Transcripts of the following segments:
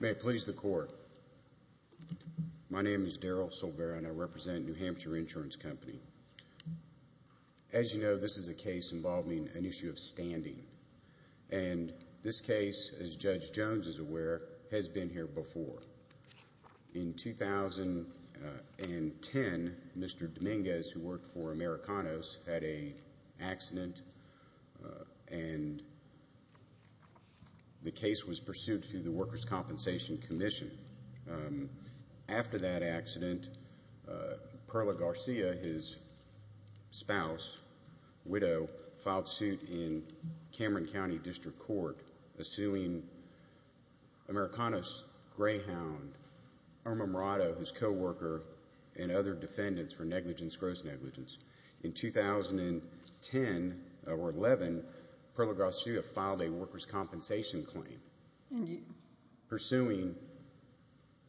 May it please the Court. My name is Darryl Silvera and I represent New Hampshire Insurance Company. As you know, this is a case involving an issue of standing. And this case, as Judge Jones is aware, has been here before. In 2010, Mr. Dominguez, who worked for Americanos, had an accident and the case was pursued through the Workers' Compensation Commission. After that accident, Perla Garcia, his spouse, widow, filed suit in Cameron County District Court suing Americanos, Greyhound, Irma Morado, his co-worker, and other defendants for negligence gross negligence. In 2010 or 2011, Perla Garcia filed a workers' compensation claim pursuing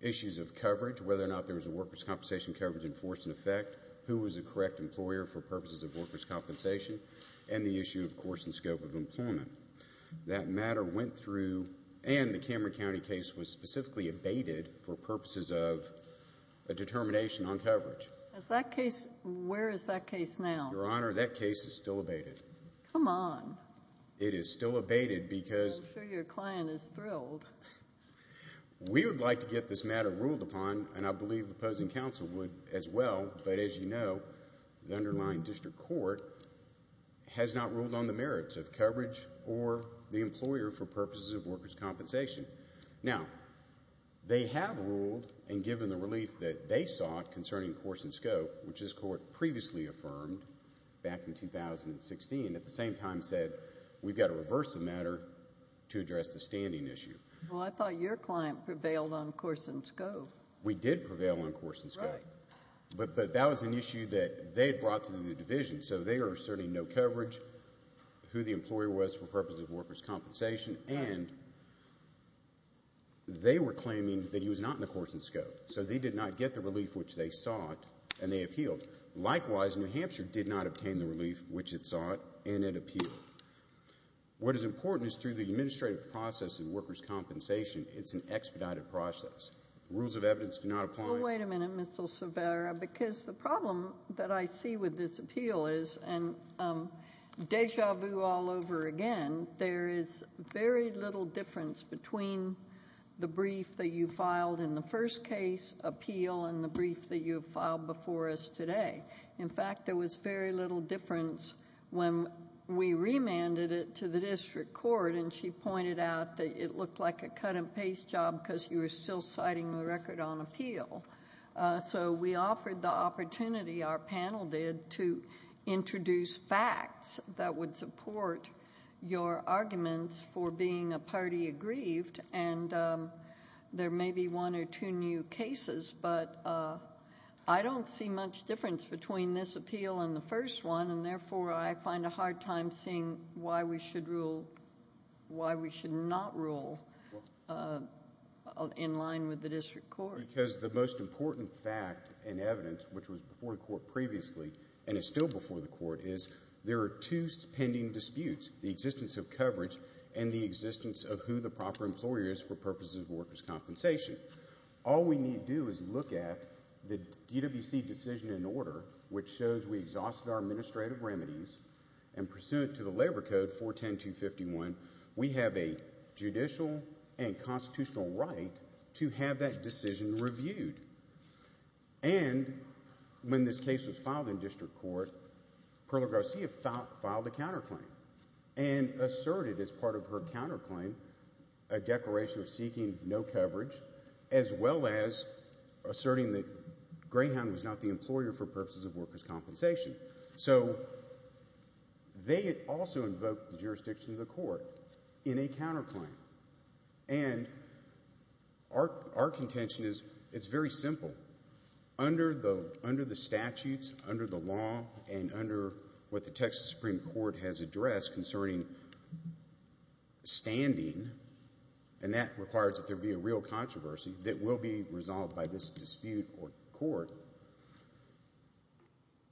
issues of coverage, whether or not there was a workers' compensation coverage in force and effect, who was the correct employer for purposes of workers' compensation, and the issue, of course, and scope of employment. That matter went through and the Cameron County case was specifically abated for purposes of a determination on coverage. Is that case, where is that case now? Your Honor, that case is still abated. Come on. It is still abated because I'm sure your client is thrilled. We would like to get this matter ruled upon and I believe the opposing counsel would as well, but as you know, the underlying district court has not ruled on the merits of coverage or the employer for purposes of workers' compensation. Now, they have ruled and given the relief that they sought concerning course and scope, which this court previously affirmed back in 2016, at the same time said, we've got to reverse the matter to address the standing issue. Well, I thought your client prevailed on course and scope. We did prevail on course and scope, but that was an issue that they brought to the division, so they are asserting no coverage, who the employer was for purposes of workers' compensation, and they were claiming that he was not in the course and scope, so they did not get the relief which they sought and they appealed. Likewise, New Hampshire did not obtain the relief which it sought and it appealed. What is important is through the administrative process in workers' compensation, it's an expedited process. Rules of evidence do not apply. Well, wait a minute, Mr. Silvera, because the problem that I see with this appeal is, and deja vu all over again, there is very little difference between the brief that you filed in the first case appeal and the brief that you filed before us today. In fact, there was very little difference when we remanded it to the district court and she pointed out that it looked like a cut and paste job because you were still citing the record on appeal. We offered the opportunity, our panel did, to introduce facts that would support your arguments for being a party aggrieved and there may be one or two new cases, but I don't see much difference between this appeal and the first one, and therefore, I find a hard time seeing why we should not rule in line with the district court. The most important fact and evidence, which was before the court previously and is still before the court, is there are two pending disputes, the existence of coverage and the existence of who the proper employer is for purposes of workers' compensation. All we need to do is look at the DWC decision in order, which shows we exhausted our administrative remedies and pursuant to the Labor Code 410251, we have a judicial and constitutional right to have that decision reviewed. And when this case was filed in district court, Perla Garcia filed a counterclaim and asserted as part of her counterclaim a declaration of seeking no coverage as well as asserting that Greyhound was not the employer for purposes of workers' compensation. So they also invoked the jurisdiction of the court in a counterclaim, and our contention is it's very simple. Under the statutes, under the law, and under what the Texas Supreme Court has addressed concerning standing, and that requires that there be a real controversy that will be resolved by this dispute or court,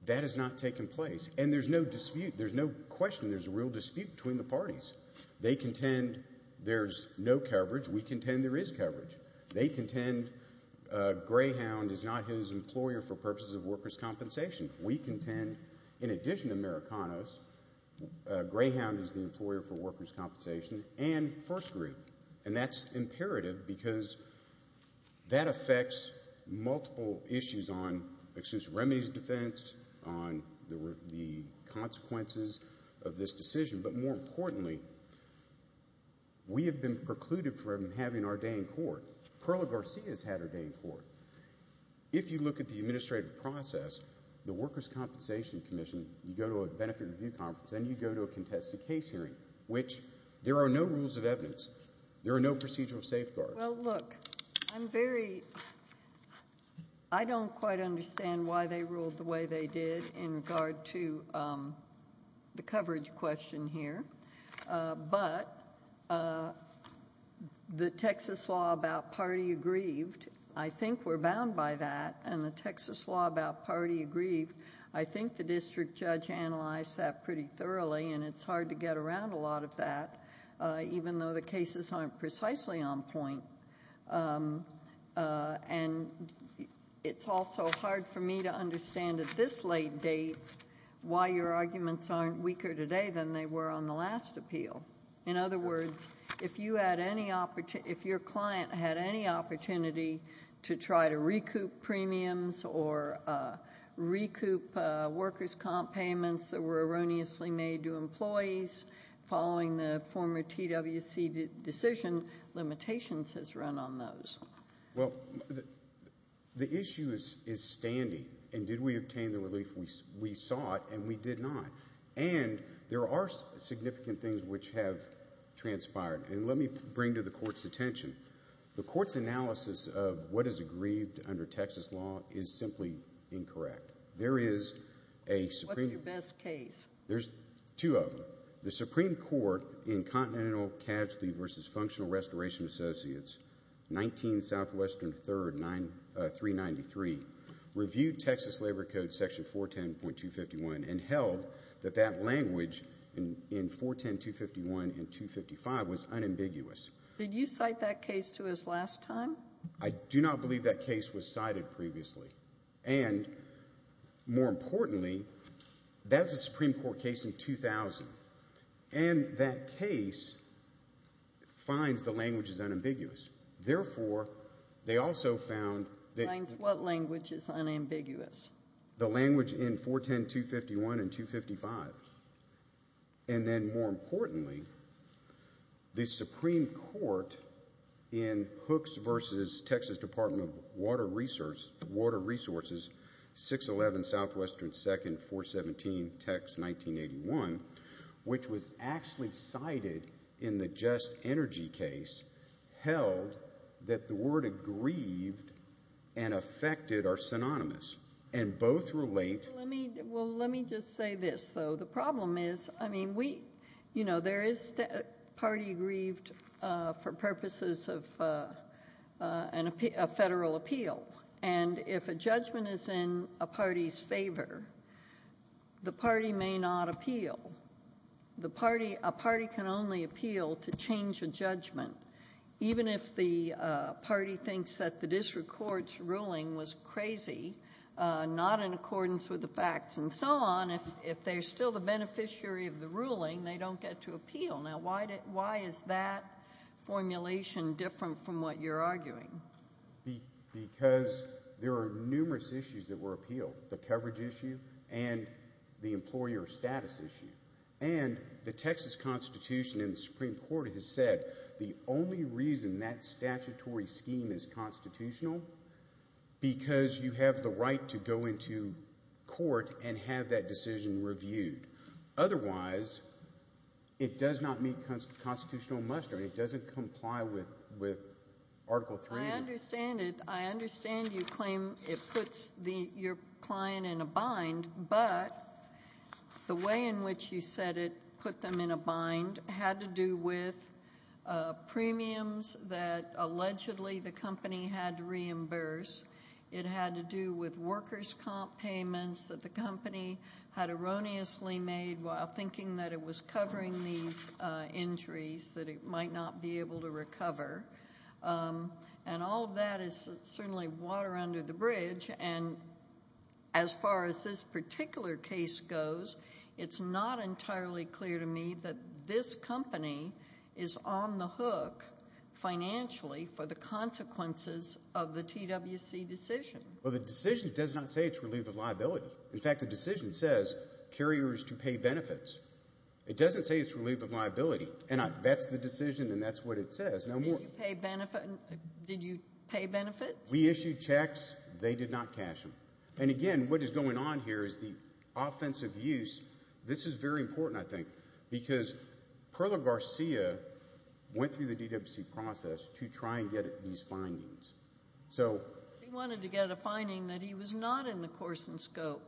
that has not taken place. And there's no dispute. There's no question. There's a real dispute between the parties. They contend there's no coverage. We contend there is coverage. They contend Greyhound is not his employer for purposes of workers' compensation. We contend, in addition to Maricanos, Greyhound is the employer for workers' compensation and first group, and that's imperative because that affects multiple issues on, excuse me, remedies of defense, on the consequences of this decision, but more importantly, we have been precluded from having our day in court. Perla Garcia has had her day in court. If you look at the administrative process, the Workers' Compensation Commission, you go to a contested case hearing, which there are no rules of evidence. There are no procedural safeguards. Well, look, I'm very, I don't quite understand why they ruled the way they did in regard to the coverage question here, but the Texas law about party aggrieved, I think we're bound by that, and the Texas law about party aggrieved, I think the district judge analyzed that pretty thoroughly, and it's hard to get around a lot of that, even though the cases aren't precisely on point, and it's also hard for me to understand at this late date why your arguments aren't weaker today than they were on the last appeal. In other words, if you had any, if your client had any opportunity to try to recoup premiums or recoup workers' comp payments that were erroneously made to employees following the former TWC decision, limitations has run on those. Well, the issue is standing, and did we obtain the relief we sought, and we did not, and there are significant things which have transpired, and let me bring to the court's attention. The court's analysis of what is aggrieved under Texas law is simply incorrect. There is a Supreme Court. What's your best case? There's two of them. The Supreme Court in Continental Casualty v. Functional Restoration Associates, 19 Southwestern 3rd, 393, reviewed Texas Labor Code section 410.251 and held that that language in 410.251 and 255 was unambiguous. Did you cite that case to us last time? I do not believe that case was cited previously, and more importantly, that's a Supreme Court case in 2000, and that case finds the language is unambiguous. Therefore, they also found that... What language is unambiguous? The language in 410.251 and 255, and then more importantly, the Supreme Court in Hooks v. Texas Department of Water Resources, 611 Southwestern 2nd, 417, text 1981, which was and both relate... Well, let me just say this, though. The problem is, I mean, there is a party aggrieved for purposes of a federal appeal, and if a judgment is in a party's favor, the party may not appeal. Even if the party thinks that the district court's ruling was crazy, not in accordance with the facts and so on, if they're still the beneficiary of the ruling, they don't get to appeal. Now, why is that formulation different from what you're arguing? Because there are numerous issues that were appealed, the coverage issue and the employer status issue. And the Texas Constitution in the Supreme Court has said the only reason that statutory scheme is constitutional, because you have the right to go into court and have that decision reviewed. Otherwise, it does not meet constitutional muster, and it doesn't comply with Article 3. I understand it. I understand you claim it puts your client in a bind, but the way in which you said it put them in a bind had to do with premiums that allegedly the company had to reimburse. It had to do with workers' comp payments that the company had erroneously made while thinking that it was covering these injuries that it might not be able to recover. And all of that is certainly water under the bridge. And as far as this particular case goes, it's not entirely clear to me that this company is on the hook financially for the consequences of the TWC decision. Well, the decision does not say it's relief of liability. In fact, the decision says carriers to pay benefits. It doesn't say it's relief of liability. And that's the decision, and that's what it says. Did you pay benefits? We issued checks. They did not cash them. And again, what is going on here is the offensive use. This is very important, I think, because Perla Garcia went through the TWC process to try and get at these findings. So they wanted to get a finding that he was not in the course and scope.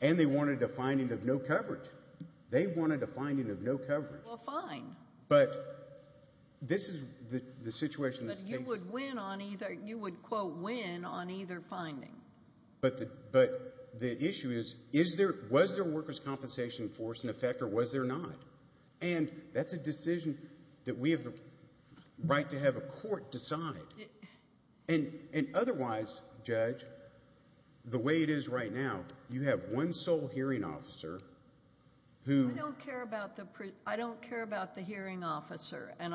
And they wanted a finding of no coverage. They wanted a finding of no coverage. Well, fine. But this is the situation in this case. But you would win on either. You would, quote, win on either finding. But the issue is, was there a workers' compensation force in effect, or was there not? And that's a decision that we have the right to have a court decide. And otherwise, Judge, the way it is right now, you have one sole hearing officer who I don't care about the hearing officer. And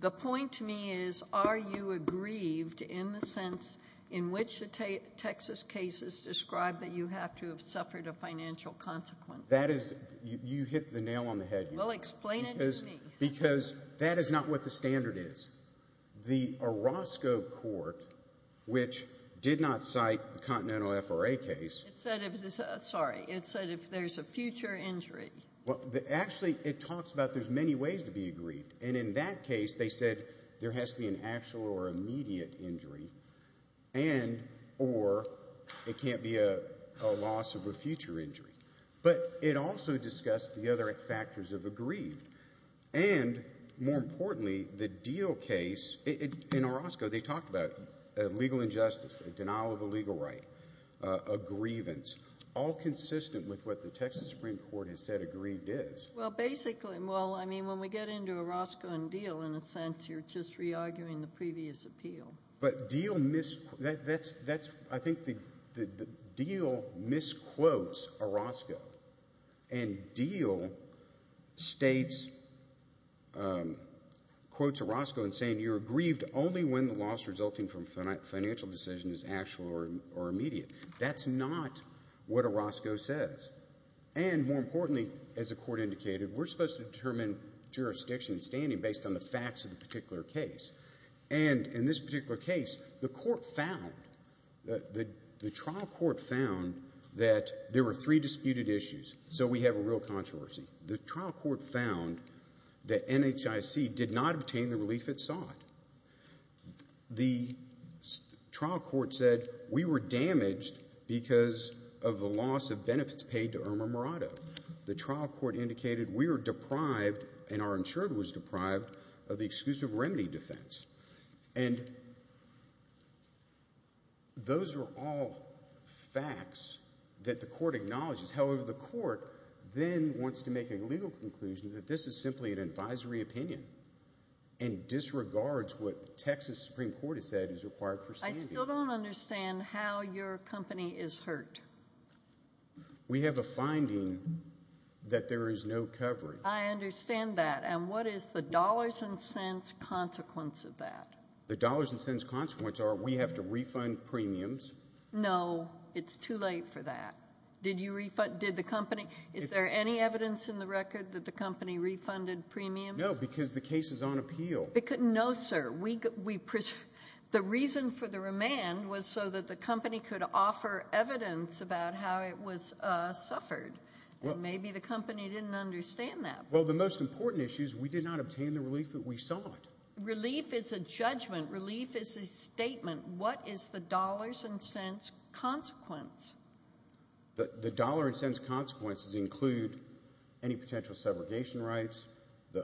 the point to me is, are you aggrieved in the sense in which the Texas cases describe that you have to have suffered a financial consequence? That is, you hit the nail on the head. Well, explain it to me. Because that is not what the standard is. The Orozco Court, which did not cite the Continental FRA case. It said if there's a future injury. Well, actually, it talks about there's many ways to be aggrieved. And in that case, they said there has to be an actual or immediate injury, and or it can't be a loss of a future injury. But it also discussed the other factors of aggrieved. And more importantly, the Deal case, in Orozco, they talked about legal injustice, a denial of a legal right, a grievance, all consistent with what the Texas Supreme Court has said aggrieved is. Well, basically, well, I mean, when we get into Orozco and Deal, in a sense, you're just re-arguing the previous appeal. But Deal misquotes Orozco. And Deal states, quotes Orozco in saying, you're aggrieved only when the loss resulting from a financial decision is actual or immediate. That's not what Orozco says. And more importantly, as the court indicated, we're supposed to determine jurisdiction standing based on the facts of the particular case. And in this particular case, the court found, the trial court found that there were three disputed issues. So we have a real controversy. The trial court found that NHIC did not obtain the relief it sought. The trial court said we were damaged because of the loss of benefits paid to Irma Murado. The trial court indicated we were deprived, and our insurer was deprived, of the exclusive remedy defense. And those are all facts that the court acknowledges. However, the court then wants to make a legal conclusion that this is simply an advisory opinion and disregards what the Texas Supreme Court has said is required for standing. I still don't understand how your company is hurt. We have a finding that there is no coverage. I understand that. And what is the dollars and cents consequence of that? The dollars and cents consequence are we have to refund premiums. No, it's too late for that. Did you refund, did the company, is there any evidence in the record that the company refunded premiums? No, because the case is on appeal. No, sir. The reason for the remand was so that the company could offer evidence about how it was suffered, and maybe the company didn't understand that. Well, the most important issue is we did not obtain the relief that we sought. Relief is a judgment. Relief is a statement. What is the dollars and cents consequence? The dollars and cents consequences include any potential subrogation rights,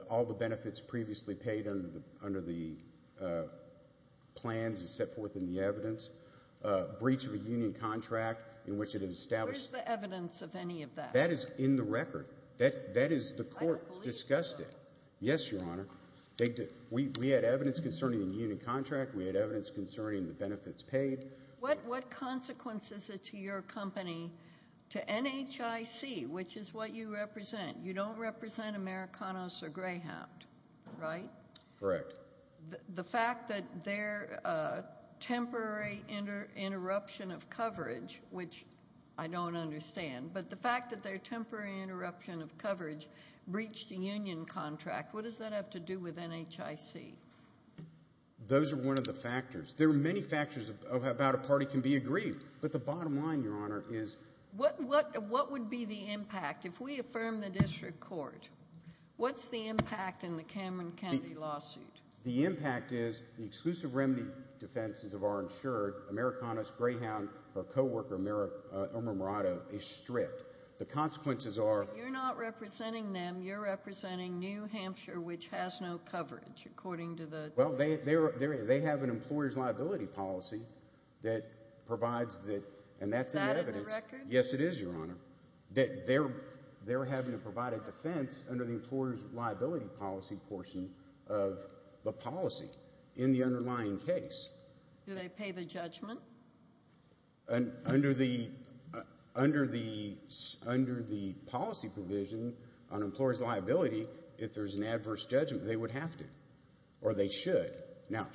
all the benefits previously paid under the plans set forth in the evidence, breach of a union contract in which it had established. Where is the evidence of any of that? That is in the record. That is, the court discussed it. Yes, Your Honor. We had evidence concerning the union contract. We had evidence concerning the benefits paid. What consequence is it to your company, to NHIC, which is what you represent? You don't represent Americanos or Greyhound, right? Correct. The fact that their temporary interruption of coverage, which I don't understand, but the fact that their temporary interruption of coverage breached the union contract, what does that have to do with NHIC? Those are one of the factors. There are many factors about a party can be agreed, but the bottom line, Your Honor, is... What would be the impact? If we affirm the district court, what's the impact in the Cameron County lawsuit? The impact is the exclusive remedy defenses of our insured Americanos, Greyhound, or coworker Omer Murado is stripped. The consequences are... You're not representing them. You're representing New Hampshire, which has no coverage, according to the... Well, they have an employer's liability policy that provides that, and that's an evidence... Is that in the record? Yes, it is, Your Honor. They're having to provide a defense under the employer's liability policy portion of the policy in the underlying case. Do they pay the judgment? Under the policy provision on employer's liability, if there's an adverse judgment, they would have to, or they should. Now,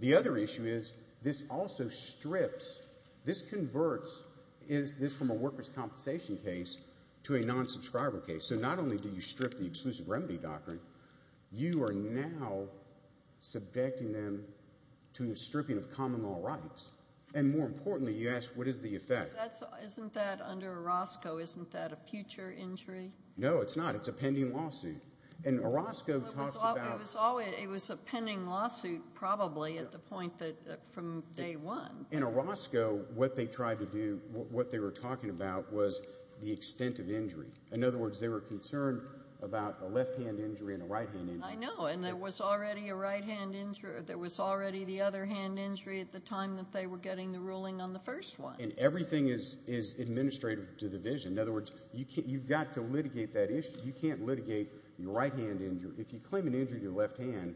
the other issue is this also strips... This converts this from a worker's compensation case to a non-subscriber case, so not only do you strip the exclusive remedy doctrine, you are now subjecting them to a stripping of common law rights, and more importantly, you ask, what is the effect? Isn't that under Orozco? Isn't that a future injury? No, it's not. It's a pending lawsuit. And Orozco talks about... It was a pending lawsuit, probably, at the point that, from day one. In Orozco, what they tried to do, what they were talking about was the extent of injury. In other words, they were concerned about a left-hand injury and a right-hand injury. I know, and there was already a right-hand injury, there was already the other hand injury at the time that they were getting the ruling on the first one. And everything is administrative to the vision, in other words, you've got to litigate that issue. You can't litigate your right-hand injury. If you claim an injury to your left hand,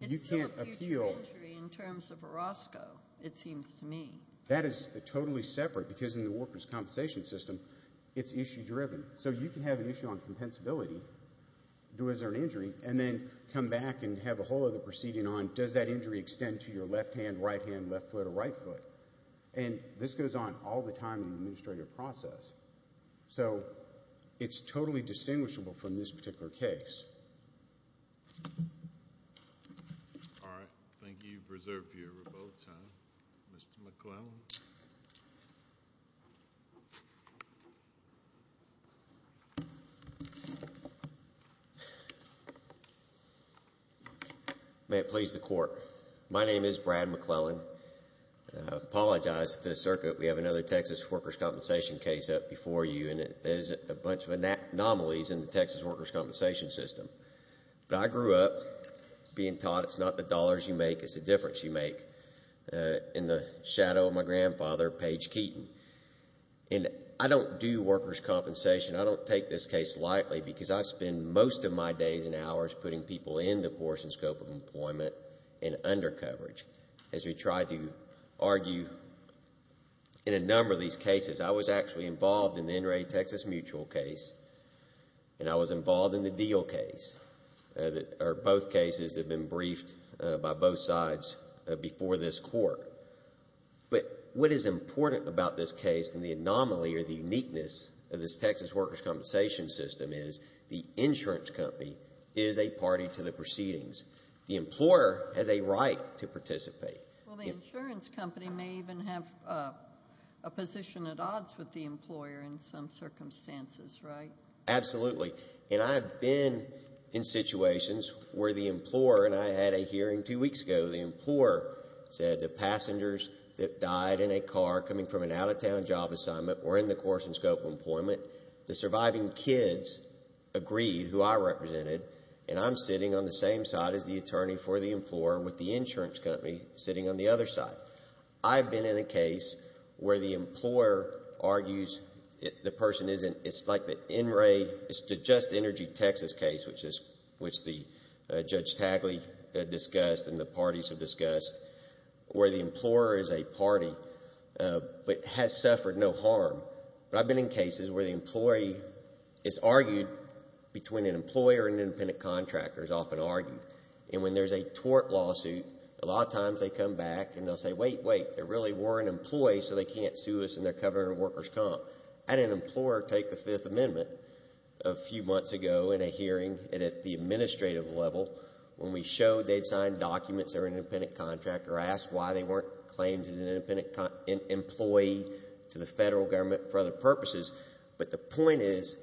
you can't appeal. It's still a future injury in terms of Orozco, it seems to me. That is totally separate, because in the workers' compensation system, it's issue-driven. So you can have an issue on compensability, was there an injury, and then come back and have a whole other proceeding on, does that injury extend to your left hand, right hand, left foot, or right foot? And this goes on all the time in the administrative process. So it's totally distinguishable from this particular case. All right. Thank you. You've reserved your rebuttal time. Mr. McClellan. May it please the Court. My name is Brad McClellan. I apologize to the circuit. We have another Texas workers' compensation case up before you, and there's a bunch of anomalies in the Texas workers' compensation system. But I grew up being taught it's not the dollars you make, it's the difference you make. In the shadow of my grandfather, Page Keaton. And I don't do workers' compensation. I don't take this case lightly, because I spend most of my days and hours putting people in the course and scope of employment in undercoverage. As we try to argue in a number of these cases. I was actually involved in the NRA Texas mutual case, and I was involved in the deal case, or both cases that have been briefed by both sides before this Court. But what is important about this case and the anomaly or the uniqueness of this Texas workers' compensation system is the insurance company is a party to the proceedings. The employer has a right to participate. Well, the insurance company may even have a position at odds with the employer in some circumstances, right? Absolutely. And I've been in situations where the employer, and I had a hearing two weeks ago, the employer said the passengers that died in a car coming from an out-of-town job assignment were in the course and scope of employment. The surviving kids agreed who I represented, and I'm sitting on the same side as the attorney for the employer with the insurance company sitting on the other side. I've been in a case where the employer argues the person isn't, it's like the NRA, it's the Just Energy Texas case, which the Judge Tagli discussed and the parties have discussed, where the employer is a party, but has suffered no harm. But I've been in cases where the employee is argued between an employer and an independent contractor is often argued. And when there's a tort lawsuit, a lot of times they come back and they'll say, wait, wait, there really were an employee, so they can't sue us in their covered workers' comp. I had an employer take the Fifth Amendment a few months ago in a hearing, and at the administrative level, when we showed they'd signed documents, they were an independent employee to the federal government for other purposes. But the point is,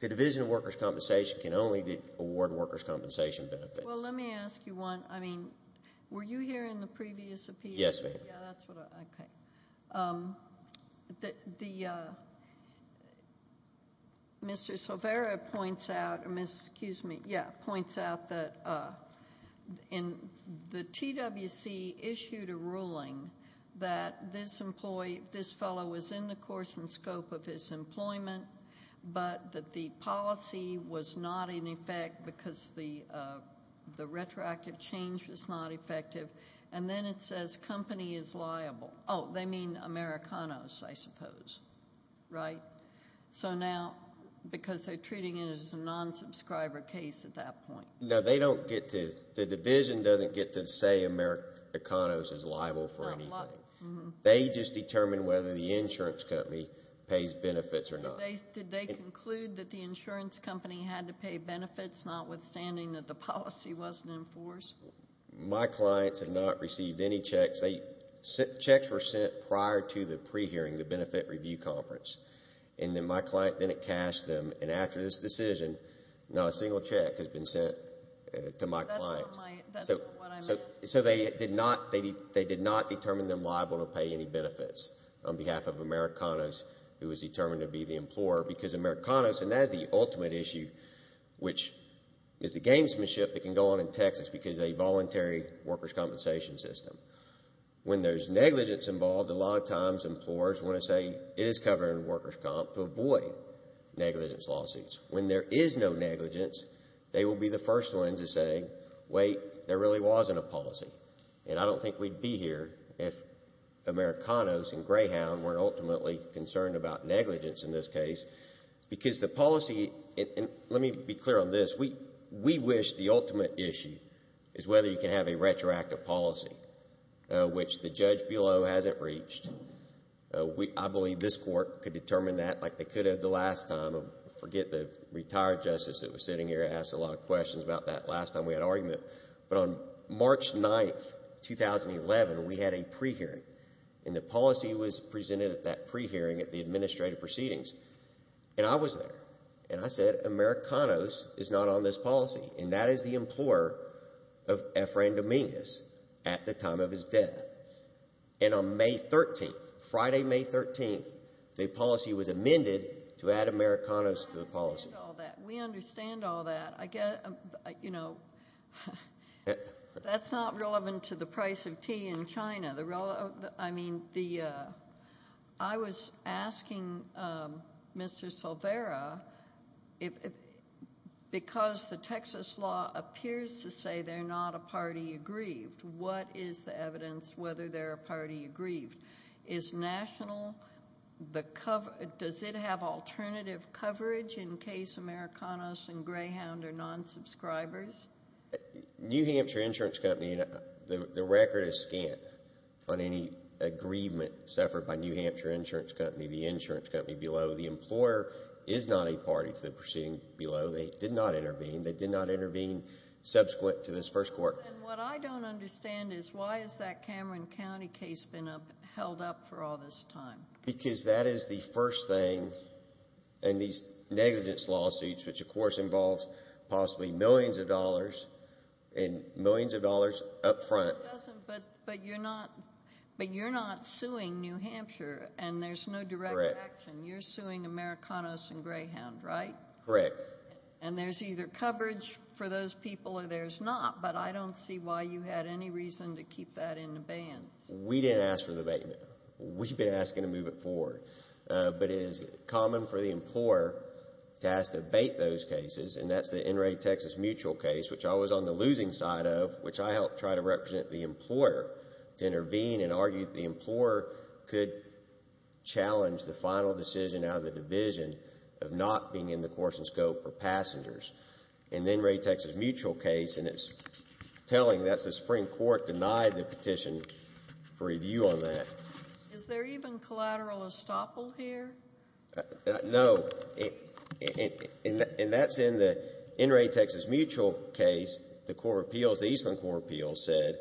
the Division of Workers' Compensation can only award workers' compensation benefits. Well, let me ask you one. I mean, were you here in the previous appeal? Yes, ma'am. Yeah, that's what I, okay. The, Mr. Silvera points out, or Ms., excuse me, yeah, points out that in the TWC issued a ruling that this employee, this fellow was in the course and scope of his employment, but that the policy was not in effect because the retroactive change was not effective. And then it says company is liable. Oh, they mean Americanos, I suppose. Right? So now, because they're treating it as a non-subscriber case at that point. No, they don't get to, the division doesn't get to say Americanos is liable for anything. They just determine whether the insurance company pays benefits or not. Did they conclude that the insurance company had to pay benefits, notwithstanding that the policy wasn't enforced? My clients have not received any checks. They, checks were sent prior to the pre-hearing, the benefit review conference. And then my client, then it cashed them. And after this decision, not a single check has been sent to my client. That's not my, that's not what I'm asking. So they did not, they did not determine them liable to pay any benefits on behalf of Americanos who was determined to be the employer. Because Americanos, and that is the ultimate issue, which is the gamesmanship that can go on in Texas because of a voluntary workers' compensation system. When there's negligence involved, a lot of times employers want to say it is covered to avoid negligence lawsuits. When there is no negligence, they will be the first ones to say, wait, there really wasn't a policy. And I don't think we'd be here if Americanos and Greyhound weren't ultimately concerned about negligence in this case. Because the policy, and let me be clear on this, we wish the ultimate issue is whether you can have a retroactive policy, which the judge below hasn't reached. I believe this court could determine that like they could have the last time. I forget the retired justice that was sitting here asked a lot of questions about that last time we had an argument. But on March 9th, 2011, we had a pre-hearing. And the policy was presented at that pre-hearing at the administrative proceedings. And I was there. And I said, Americanos is not on this policy. And that is the employer of Efrain Dominguez at the time of his death. And on May 13th, Friday, May 13th, the policy was amended to add Americanos to the policy. We understand all that. You know, that's not relevant to the price of tea in China. I mean, I was asking Mr. Silvera, because the Texas law appears to say they're not a party to whether they're a party aggrieved. Does it have alternative coverage in case Americanos and Greyhound are non-subscribers? New Hampshire Insurance Company, the record is scant on any aggrievement suffered by New Hampshire Insurance Company, the insurance company below. The employer is not a party to the proceeding below. They did not intervene. They did not intervene subsequent to this first court. And what I don't understand is why has that Cameron County case been held up for all this time? Because that is the first thing in these negligence lawsuits, which of course involves possibly millions of dollars and millions of dollars up front. But you're not suing New Hampshire, and there's no direct action. You're suing Americanos and Greyhound, right? Correct. And there's either coverage for those people or there's not, but I don't see why you had any reason to keep that in abeyance. We didn't ask for the abatement. We've been asking to move it forward. But it is common for the employer to ask to abate those cases, and that's the NRA Texas mutual case, which I was on the losing side of, which I helped try to represent the employer to intervene and argue that the employer could challenge the final decision out of the division of not being in the course and scope for passengers. And the NRA Texas mutual case, and it's telling that the Supreme Court denied the petition for review on that. Is there even collateral estoppel here? No. And that's in the NRA Texas mutual case, the Eastern Court of Appeals said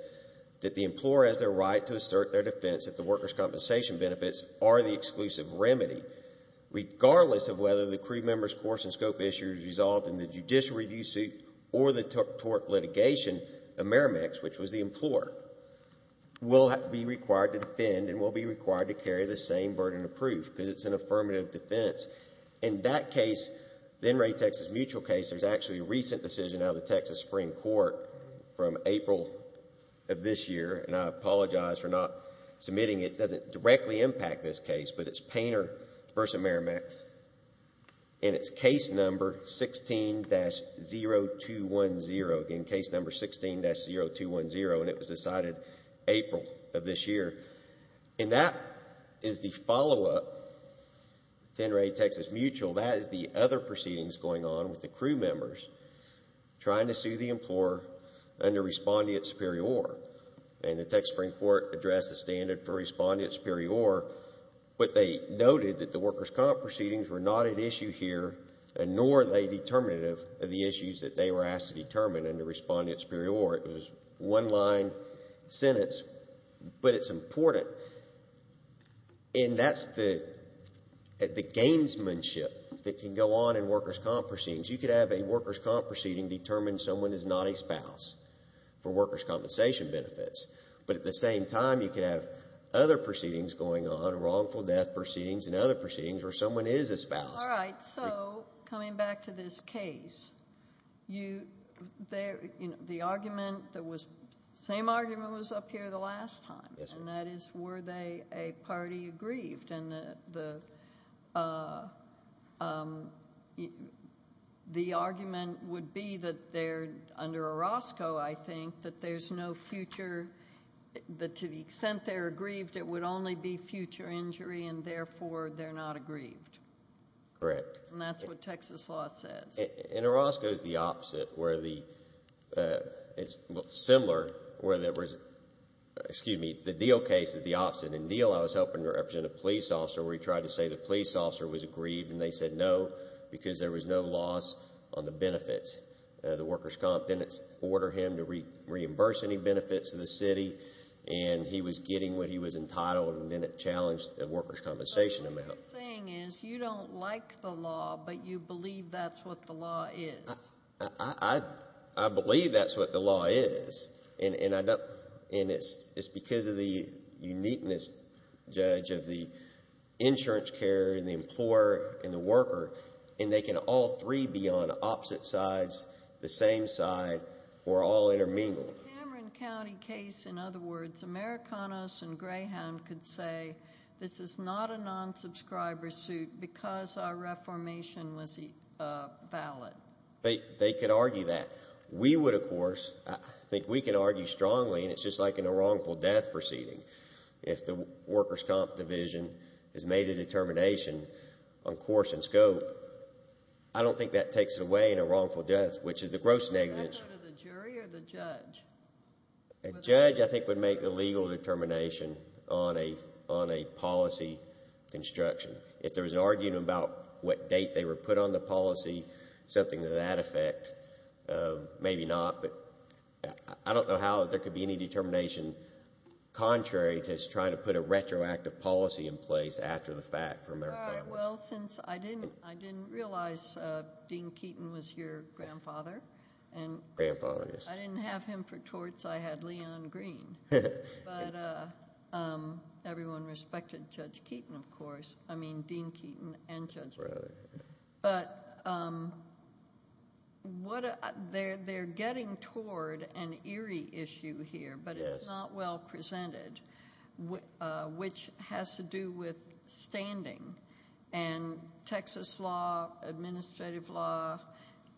that the employer has the right to assert their defense if the workers' compensation benefits are the exclusive remedy. Regardless of whether the crew member's course and scope issue is resolved in the judicial review suit or the tort litigation, the meramex, which was the employer, will be required to defend and will be required to carry the same burden of proof because it's an affirmative defense. In that case, the NRA Texas mutual case, there's actually a recent decision out of the Texas Supreme Court from April of this year, and I apologize for not submitting it. It doesn't directly impact this case, but it's Painter v. Meramex, and it's case number 16-0210. Again, case number 16-0210, and it was decided April of this year. And that is the follow-up to NRA Texas mutual. That is the other proceedings going on with the crew members trying to sue the employer under respondent superior. And the Texas Supreme Court addressed the standard for respondent superior, but they noted that the workers' comp proceedings were not at issue here, nor are they determinative of the issues that they were asked to determine under respondent superior. It was a one-line sentence, but it's important. And that's the gamesmanship that can go on in workers' comp proceedings. You could have a workers' comp proceeding determine someone is not a spouse for workers' compensation benefits, but at the same time, you could have other proceedings going on, wrongful death proceedings and other proceedings where someone is a spouse. All right. So coming back to this case, the argument, the same argument was up here the last time. Yes, ma'am. And that is, were they a party aggrieved? And the argument would be that they're, under Orozco, I think, that there's no future, that to the extent they're aggrieved, it would only be future injury, and therefore, they're not aggrieved. Correct. And that's what Texas law says. And Orozco is the opposite, where the, it's similar, where there was, excuse me, the Deal case is the opposite. In Deal, I was helping to represent a police officer where he tried to say the police officer was aggrieved, and they said no, because there was no loss on the benefits. The workers' comp didn't order him to reimburse any benefits to the city, and he was getting what he was entitled, and then it challenged the workers' compensation amount. What you're saying is you don't like the law, but you believe that's what the law is. I believe that's what the law is, and I don't, and it's because of the uniqueness, Judge, of the insurance carrier, and the employer, and the worker, and they can all three be on opposite sides, the same side, or all intermingled. In the Cameron County case, in other words, Americanas and Greyhound could say this is not a non-subscriber suit because our reformation was valid. They could argue that. We would, of course, I think we can argue strongly, and it's just like in a wrongful death proceeding. If the workers' comp division has made a determination on course and scope, I don't think that takes away in a wrongful death, which is a gross negligence. Would that go to the jury or the judge? The judge, I think, would make the legal determination on a policy construction. If there was an argument about what date they were put on the policy, something to that effect, maybe not, but I don't know how there could be any determination contrary to trying to put a retroactive policy in place after the fact for Americanas. Well, since I didn't realize Dean Keaton was your grandfather. Grandfather, yes. I didn't have him for torts. I had Leon Green, but everyone respected Judge Keaton, of course. I mean, Dean Keaton and Judge Brown. But they're getting toward an eerie issue here, but it's not well presented, which has to do with standing. And Texas law, administrative law,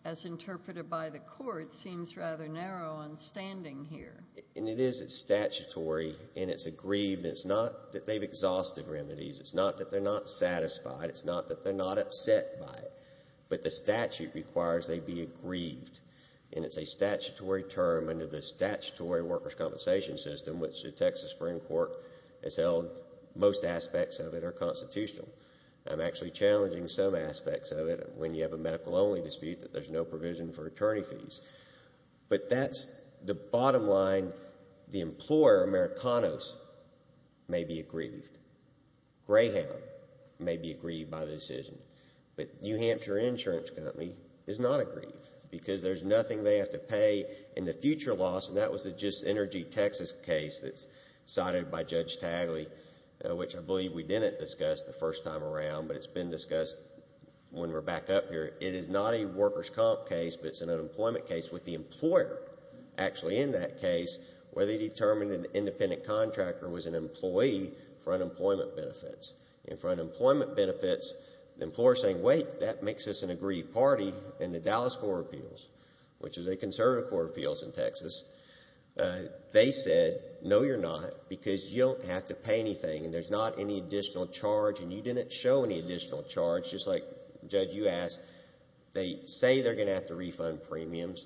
as interpreted by the court, seems rather narrow on standing here. And it is. It's statutory, and it's aggrieved, and it's not that they've exhausted remedies. It's not that they're not satisfied. It's not that they're not upset by it. But the statute requires they be aggrieved, and it's a statutory term under the statutory workers' compensation system, which the Texas Supreme Court has held most aspects of it are constitutional. I'm actually challenging some aspects of it when you have a medical-only dispute that there's no provision for attorney fees. But that's the bottom line. The employer, Americanas, may be aggrieved. Greyhound may be aggrieved by the decision. But New Hampshire Insurance Company is not aggrieved because there's nothing they have to pay in the future loss, and that was the Just Energy Texas case that's cited by Judge Smith. It's been discussed the first time around, but it's been discussed when we're back up here. It is not a workers' comp case, but it's an unemployment case with the employer actually in that case where they determined an independent contractor was an employee for unemployment benefits. And for unemployment benefits, the employer is saying, wait, that makes us an aggrieved party. And the Dallas Court of Appeals, which is a conservative court of appeals in Texas, they said, no, you're not, because you don't have to pay anything, and there's not any additional charge, and you didn't show any additional charge, just like, Judge, you asked. They say they're going to have to refund premiums.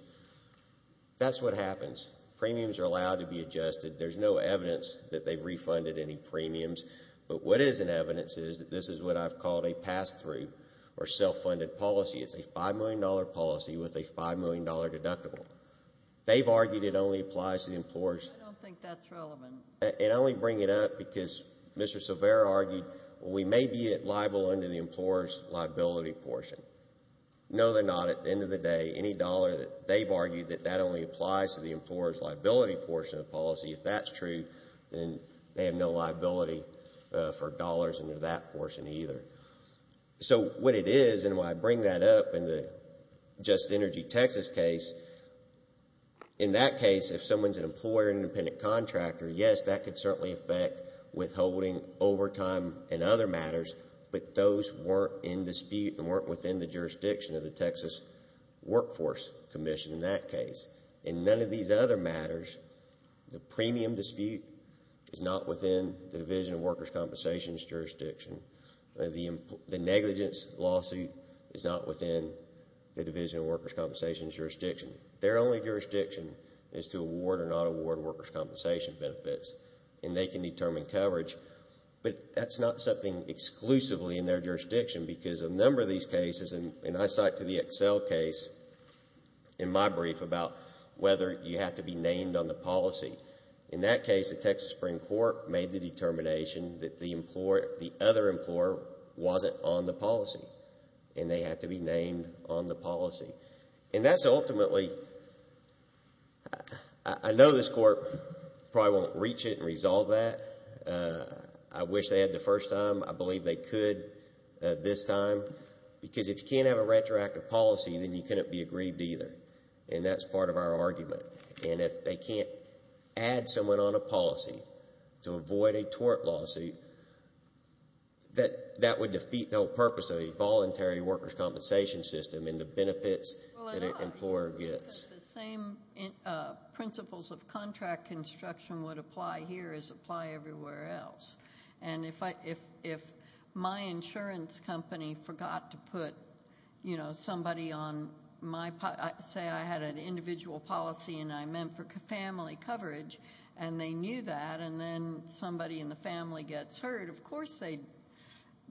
That's what happens. Premiums are allowed to be adjusted. There's no evidence that they've refunded any premiums. But what is in evidence is that this is what I've called a pass-through or self-funded policy. It's a $5 million policy with a $5 million deductible. They've argued it only applies to the employers. I don't think that's relevant. And I only bring it up because Mr. Silvera argued, well, we may be liable under the employer's liability portion. No, they're not. At the end of the day, any dollar that they've argued that that only applies to the employer's liability portion of the policy, if that's true, then they have no liability for dollars under that portion either. So, what it is, and why I bring that up in the Just Energy Texas case, in that case, if someone's an employer or an independent contractor, yes, that could certainly affect withholding, overtime, and other matters. But those weren't in dispute and weren't within the jurisdiction of the Texas Workforce Commission in that case. In none of these other matters, the premium dispute is not within the Division of Workers' Compensation's jurisdiction. The negligence lawsuit is not within the Division of Workers' Compensation's jurisdiction. Their only jurisdiction is to award or not award workers' compensation benefits, and they can determine coverage. But that's not something exclusively in their jurisdiction, because a number of these cases, and I cite to the Excel case in my brief about whether you have to be named on the policy. In that case, the Texas Supreme Court made the determination that the other employer wasn't on the policy, and they have to be named on the policy. And that's ultimately, I know this court probably won't reach it and resolve that. I wish they had the first time. I believe they could this time. Because if you can't have a retroactive policy, then you couldn't be agreed to either. And that's part of our argument. And if they can't add someone on a policy to avoid a tort lawsuit, that would defeat the whole purpose of a voluntary workers' compensation system and the benefits that an employer gets. The same principles of contract construction would apply here as apply everywhere else. And if my insurance company forgot to put somebody on my policy, say I had an individual policy and I meant for family coverage, and they knew that, and then somebody in the family gets hurt, of course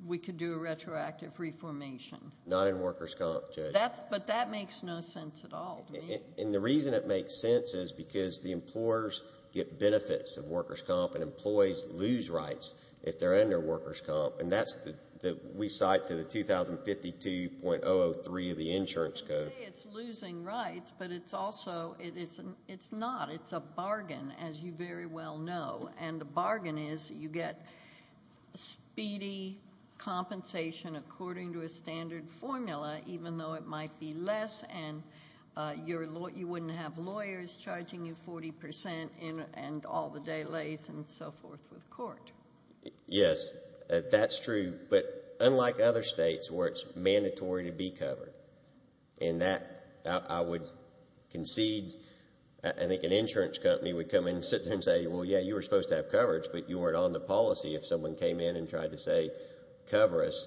we could do a retroactive reformation. Not in workers' comp, Judge. But that makes no sense at all to me. And the reason it makes sense is because the employers get benefits of workers' comp, and employees lose rights if they're under workers' comp. And that's what we cite to the 2052.003 of the insurance code. You say it's losing rights, but it's also, it's not. It's a bargain, as you very well know. And the bargain is you get speedy compensation according to a standard formula, even though it might be less, and you wouldn't have lawyers charging you 40 percent and all the delays and so forth with court. Yes, that's true. But unlike other states where it's mandatory to be covered. And that, I would concede, I think an insurance company would come in and sit there and say, well, yeah, you were supposed to have coverage, but you weren't on the policy if someone came in and tried to say, cover us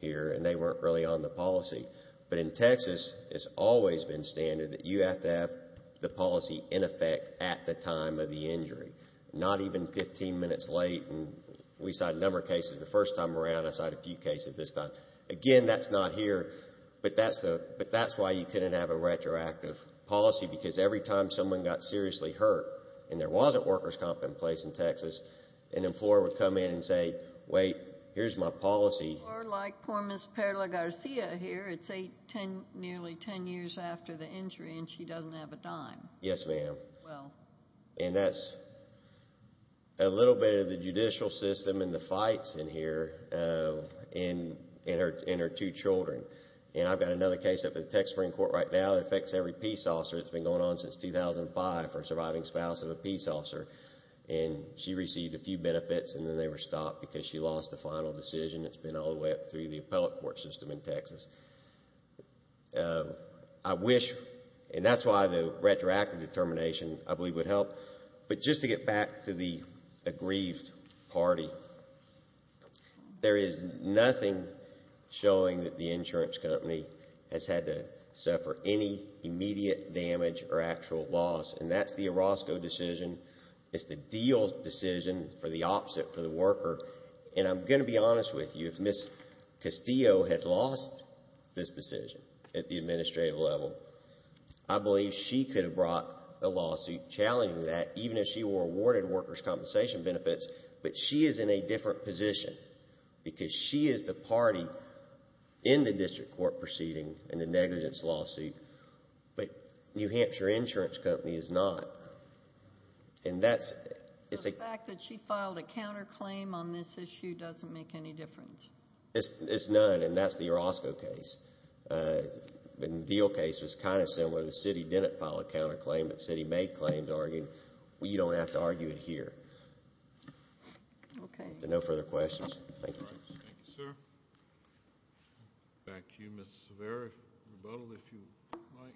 here, and they weren't really on the policy. But in Texas, it's always been standard that you have to have the policy in effect at the time of the injury, not even 15 minutes late. And we cite a number of cases. The first time around, I cite a few cases this time. Again, that's not here. But that's why you couldn't have a retroactive policy, because every time someone got seriously hurt and there wasn't workers' comp in place in Texas, an employer would come in and say, wait, here's my policy. Or like poor Miss Perla Garcia here, it's nearly 10 years after the injury and she doesn't have a dime. Yes, ma'am. And that's a little bit of the judicial system and the fights in here in her two children. And I've got another case up at the Texas Supreme Court right now that affects every peace officer that's been going on since 2005 for a surviving spouse of a peace officer. And she received a few benefits and then they were stopped because she lost the final decision. It's been all the way up through the appellate court system in Texas. I wish, and that's why the retroactive determination, I believe, would help. But just to get back to the aggrieved party, there is nothing showing that the insurance company has had to suffer any immediate damage or actual loss. And that's the Orozco decision. It's the deal decision for the opposite for the worker. And I'm going to be honest with you. If Miss Castillo had lost this decision at the administrative level, I believe she could have brought a lawsuit challenging that, even if she were awarded workers' compensation benefits. But she is in a different position because she is the party in the district court proceeding in the negligence lawsuit. But New Hampshire Insurance Company is not. And that's... The fact that she filed a counterclaim on this issue doesn't make any difference. It's none, and that's the Orozco case. The deal case was kind of similar. The city didn't file a counterclaim. The city made claims arguing, well, you don't have to argue it here. Okay. No further questions. Thank you, sir. Back to you, Mr. Saverio. Rebuttal, if you like.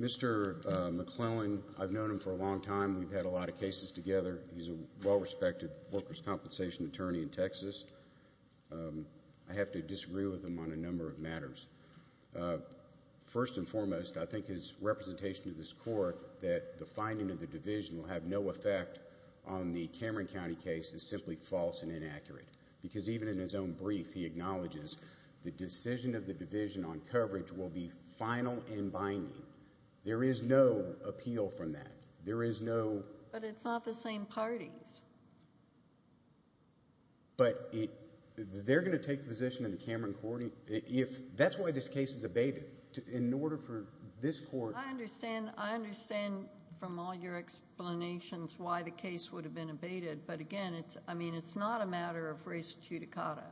Mr. McClellan, I've known him for a long time. We've had a lot of cases together. He's a well-respected workers' compensation attorney in Texas. I have to disagree with him on a number of matters. First and foremost, I think his representation to this court that the finding of the division will have no effect on the Cameron County case is simply false and inaccurate. Because even in his own brief, he acknowledges the decision of the division on coverage will be final and binding. There is no appeal from that. There is no... But it's not the same parties. But they're going to take the position in the Cameron County... That's why this case is abated. In order for this court... I understand. I understand from all your explanations why the case would have been abated. But again, I mean, it's not a matter of race judicata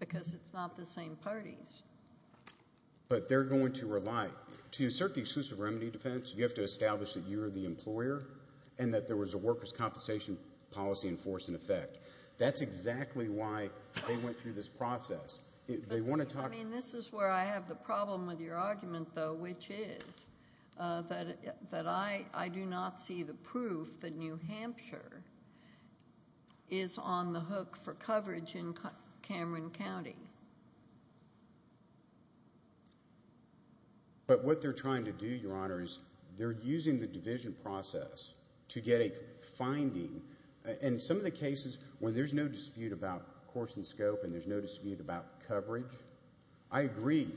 because it's not the same parties. But they're going to rely... To assert the exclusive remedy defense, you have to establish that you're the employer and that there was a workers' compensation attorney policy in force and effect. That's exactly why they went through this process. They want to talk... I mean, this is where I have the problem with your argument, though, which is that I do not see the proof that New Hampshire is on the hook for coverage in Cameron County. But what they're trying to do, Your Honor, is they're using the division process to get a finding. In some of the cases when there's no dispute about course and scope and there's no dispute about coverage, I agree.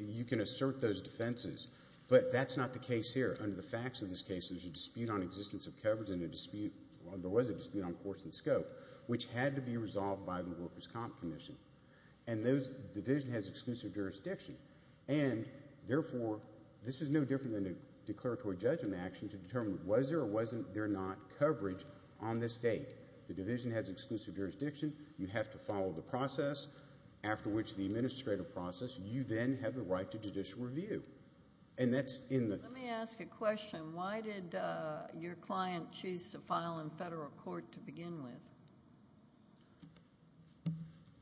You can assert those defenses. But that's not the case here. Under the facts of this case, there was a dispute on course and scope which had to be resolved by the Workers' Comp Commission. And the division has exclusive jurisdiction. And therefore, this is no different than a declaratory judgment action to determine was there or wasn't there not coverage on this date. The division has exclusive jurisdiction. You have to follow the process after which the administrative process. You then have the right to judicial review. And that's in the... Let me ask a question. Why did your client choose to file in federal court to begin with?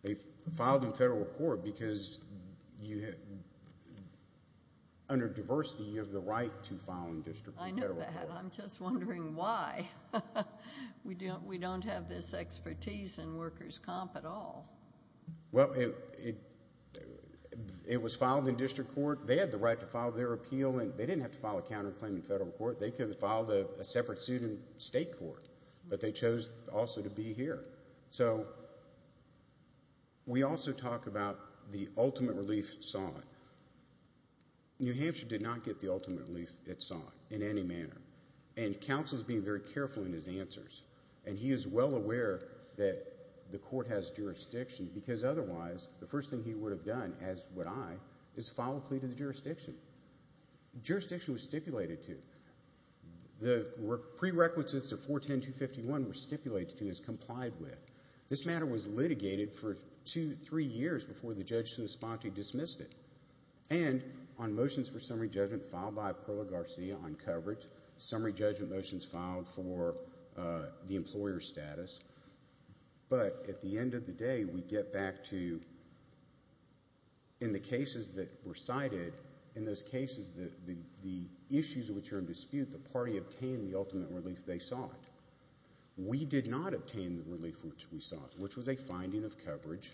They filed in federal court because under diversity, you have the right to file in district or federal court. I know that. I'm just wondering why. We don't have this expertise in Workers' Comp at all. Well, it was filed in district court. They had the right to file their appeal. They didn't have to file a counterclaim in federal court. They could have filed a separate suit in state court. But they chose also to be here. So, we also talk about the ultimate relief solid. New Hampshire did not get the ultimate relief solid in any manner. And counsel is being very careful in his answers. And he is well aware that the court has jurisdiction because otherwise, the first thing he would have done as would I, is file a plea to the jurisdiction. Jurisdiction was stipulated to. The prerequisites of 410251 were stipulated to as complied with. This matter was litigated for two, three years before the judge in the spotty dismissed it. And, on motions for summary judgment filed by Perla Garcia on coverage, summary judgment motions filed for the employer status. But, at the end of the day, we get back to in the cases that were cited, in those cases, the issues which are in dispute, the party obtained the ultimate relief they sought. We did not obtain the relief which we sought, which was a finding of coverage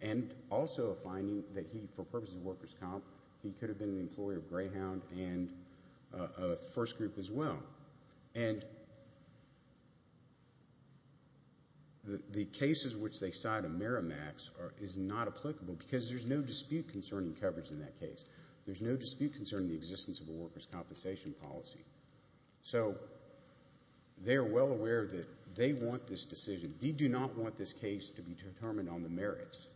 and also a finding that he, for purposes of workers' comp, he could have been an employer of Greyhound and First Group as well. And the cases which they cite in Miramax is not applicable because there is no dispute concerning coverage in that case. There is no dispute concerning the existence of a workers' compensation policy. So, they are well aware that they want this decision. They do not want this case to be determined on the merits.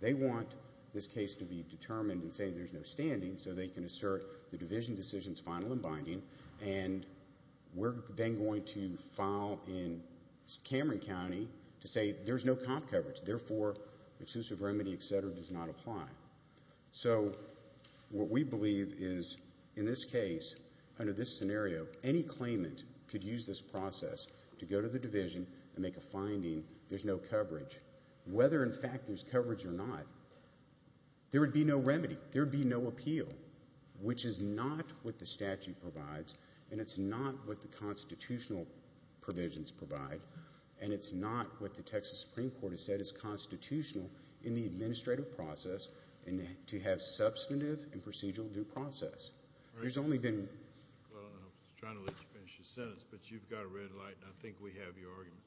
They want this case to be determined and say there's no standing so they can assert the division decision's final and binding and we're then going to file in Cameron County to say there's no comp coverage. Therefore, exclusive remedy, etc., does not apply. So, what we believe is, in this case, under this scenario, any claimant could use this process to go to the division and make a finding there's no coverage. Whether, in fact, there's coverage or not, there would be no remedy. There would be no appeal. Which is not what the statute provides and it's not what the constitutional provisions provide and it's not what the Texas Supreme Court has said is constitutional in the administrative process to have substantive and procedural due process. There's only been... Well, I was trying to let you finish your sentence but you've got a red light and I think we have your argument.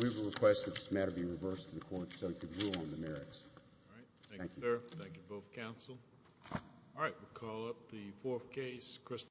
We would request that this matter be reversed to the court so it could rule on the merits. Thank you, sir. Thank you to both counsel. Alright, we'll call up the fourth case.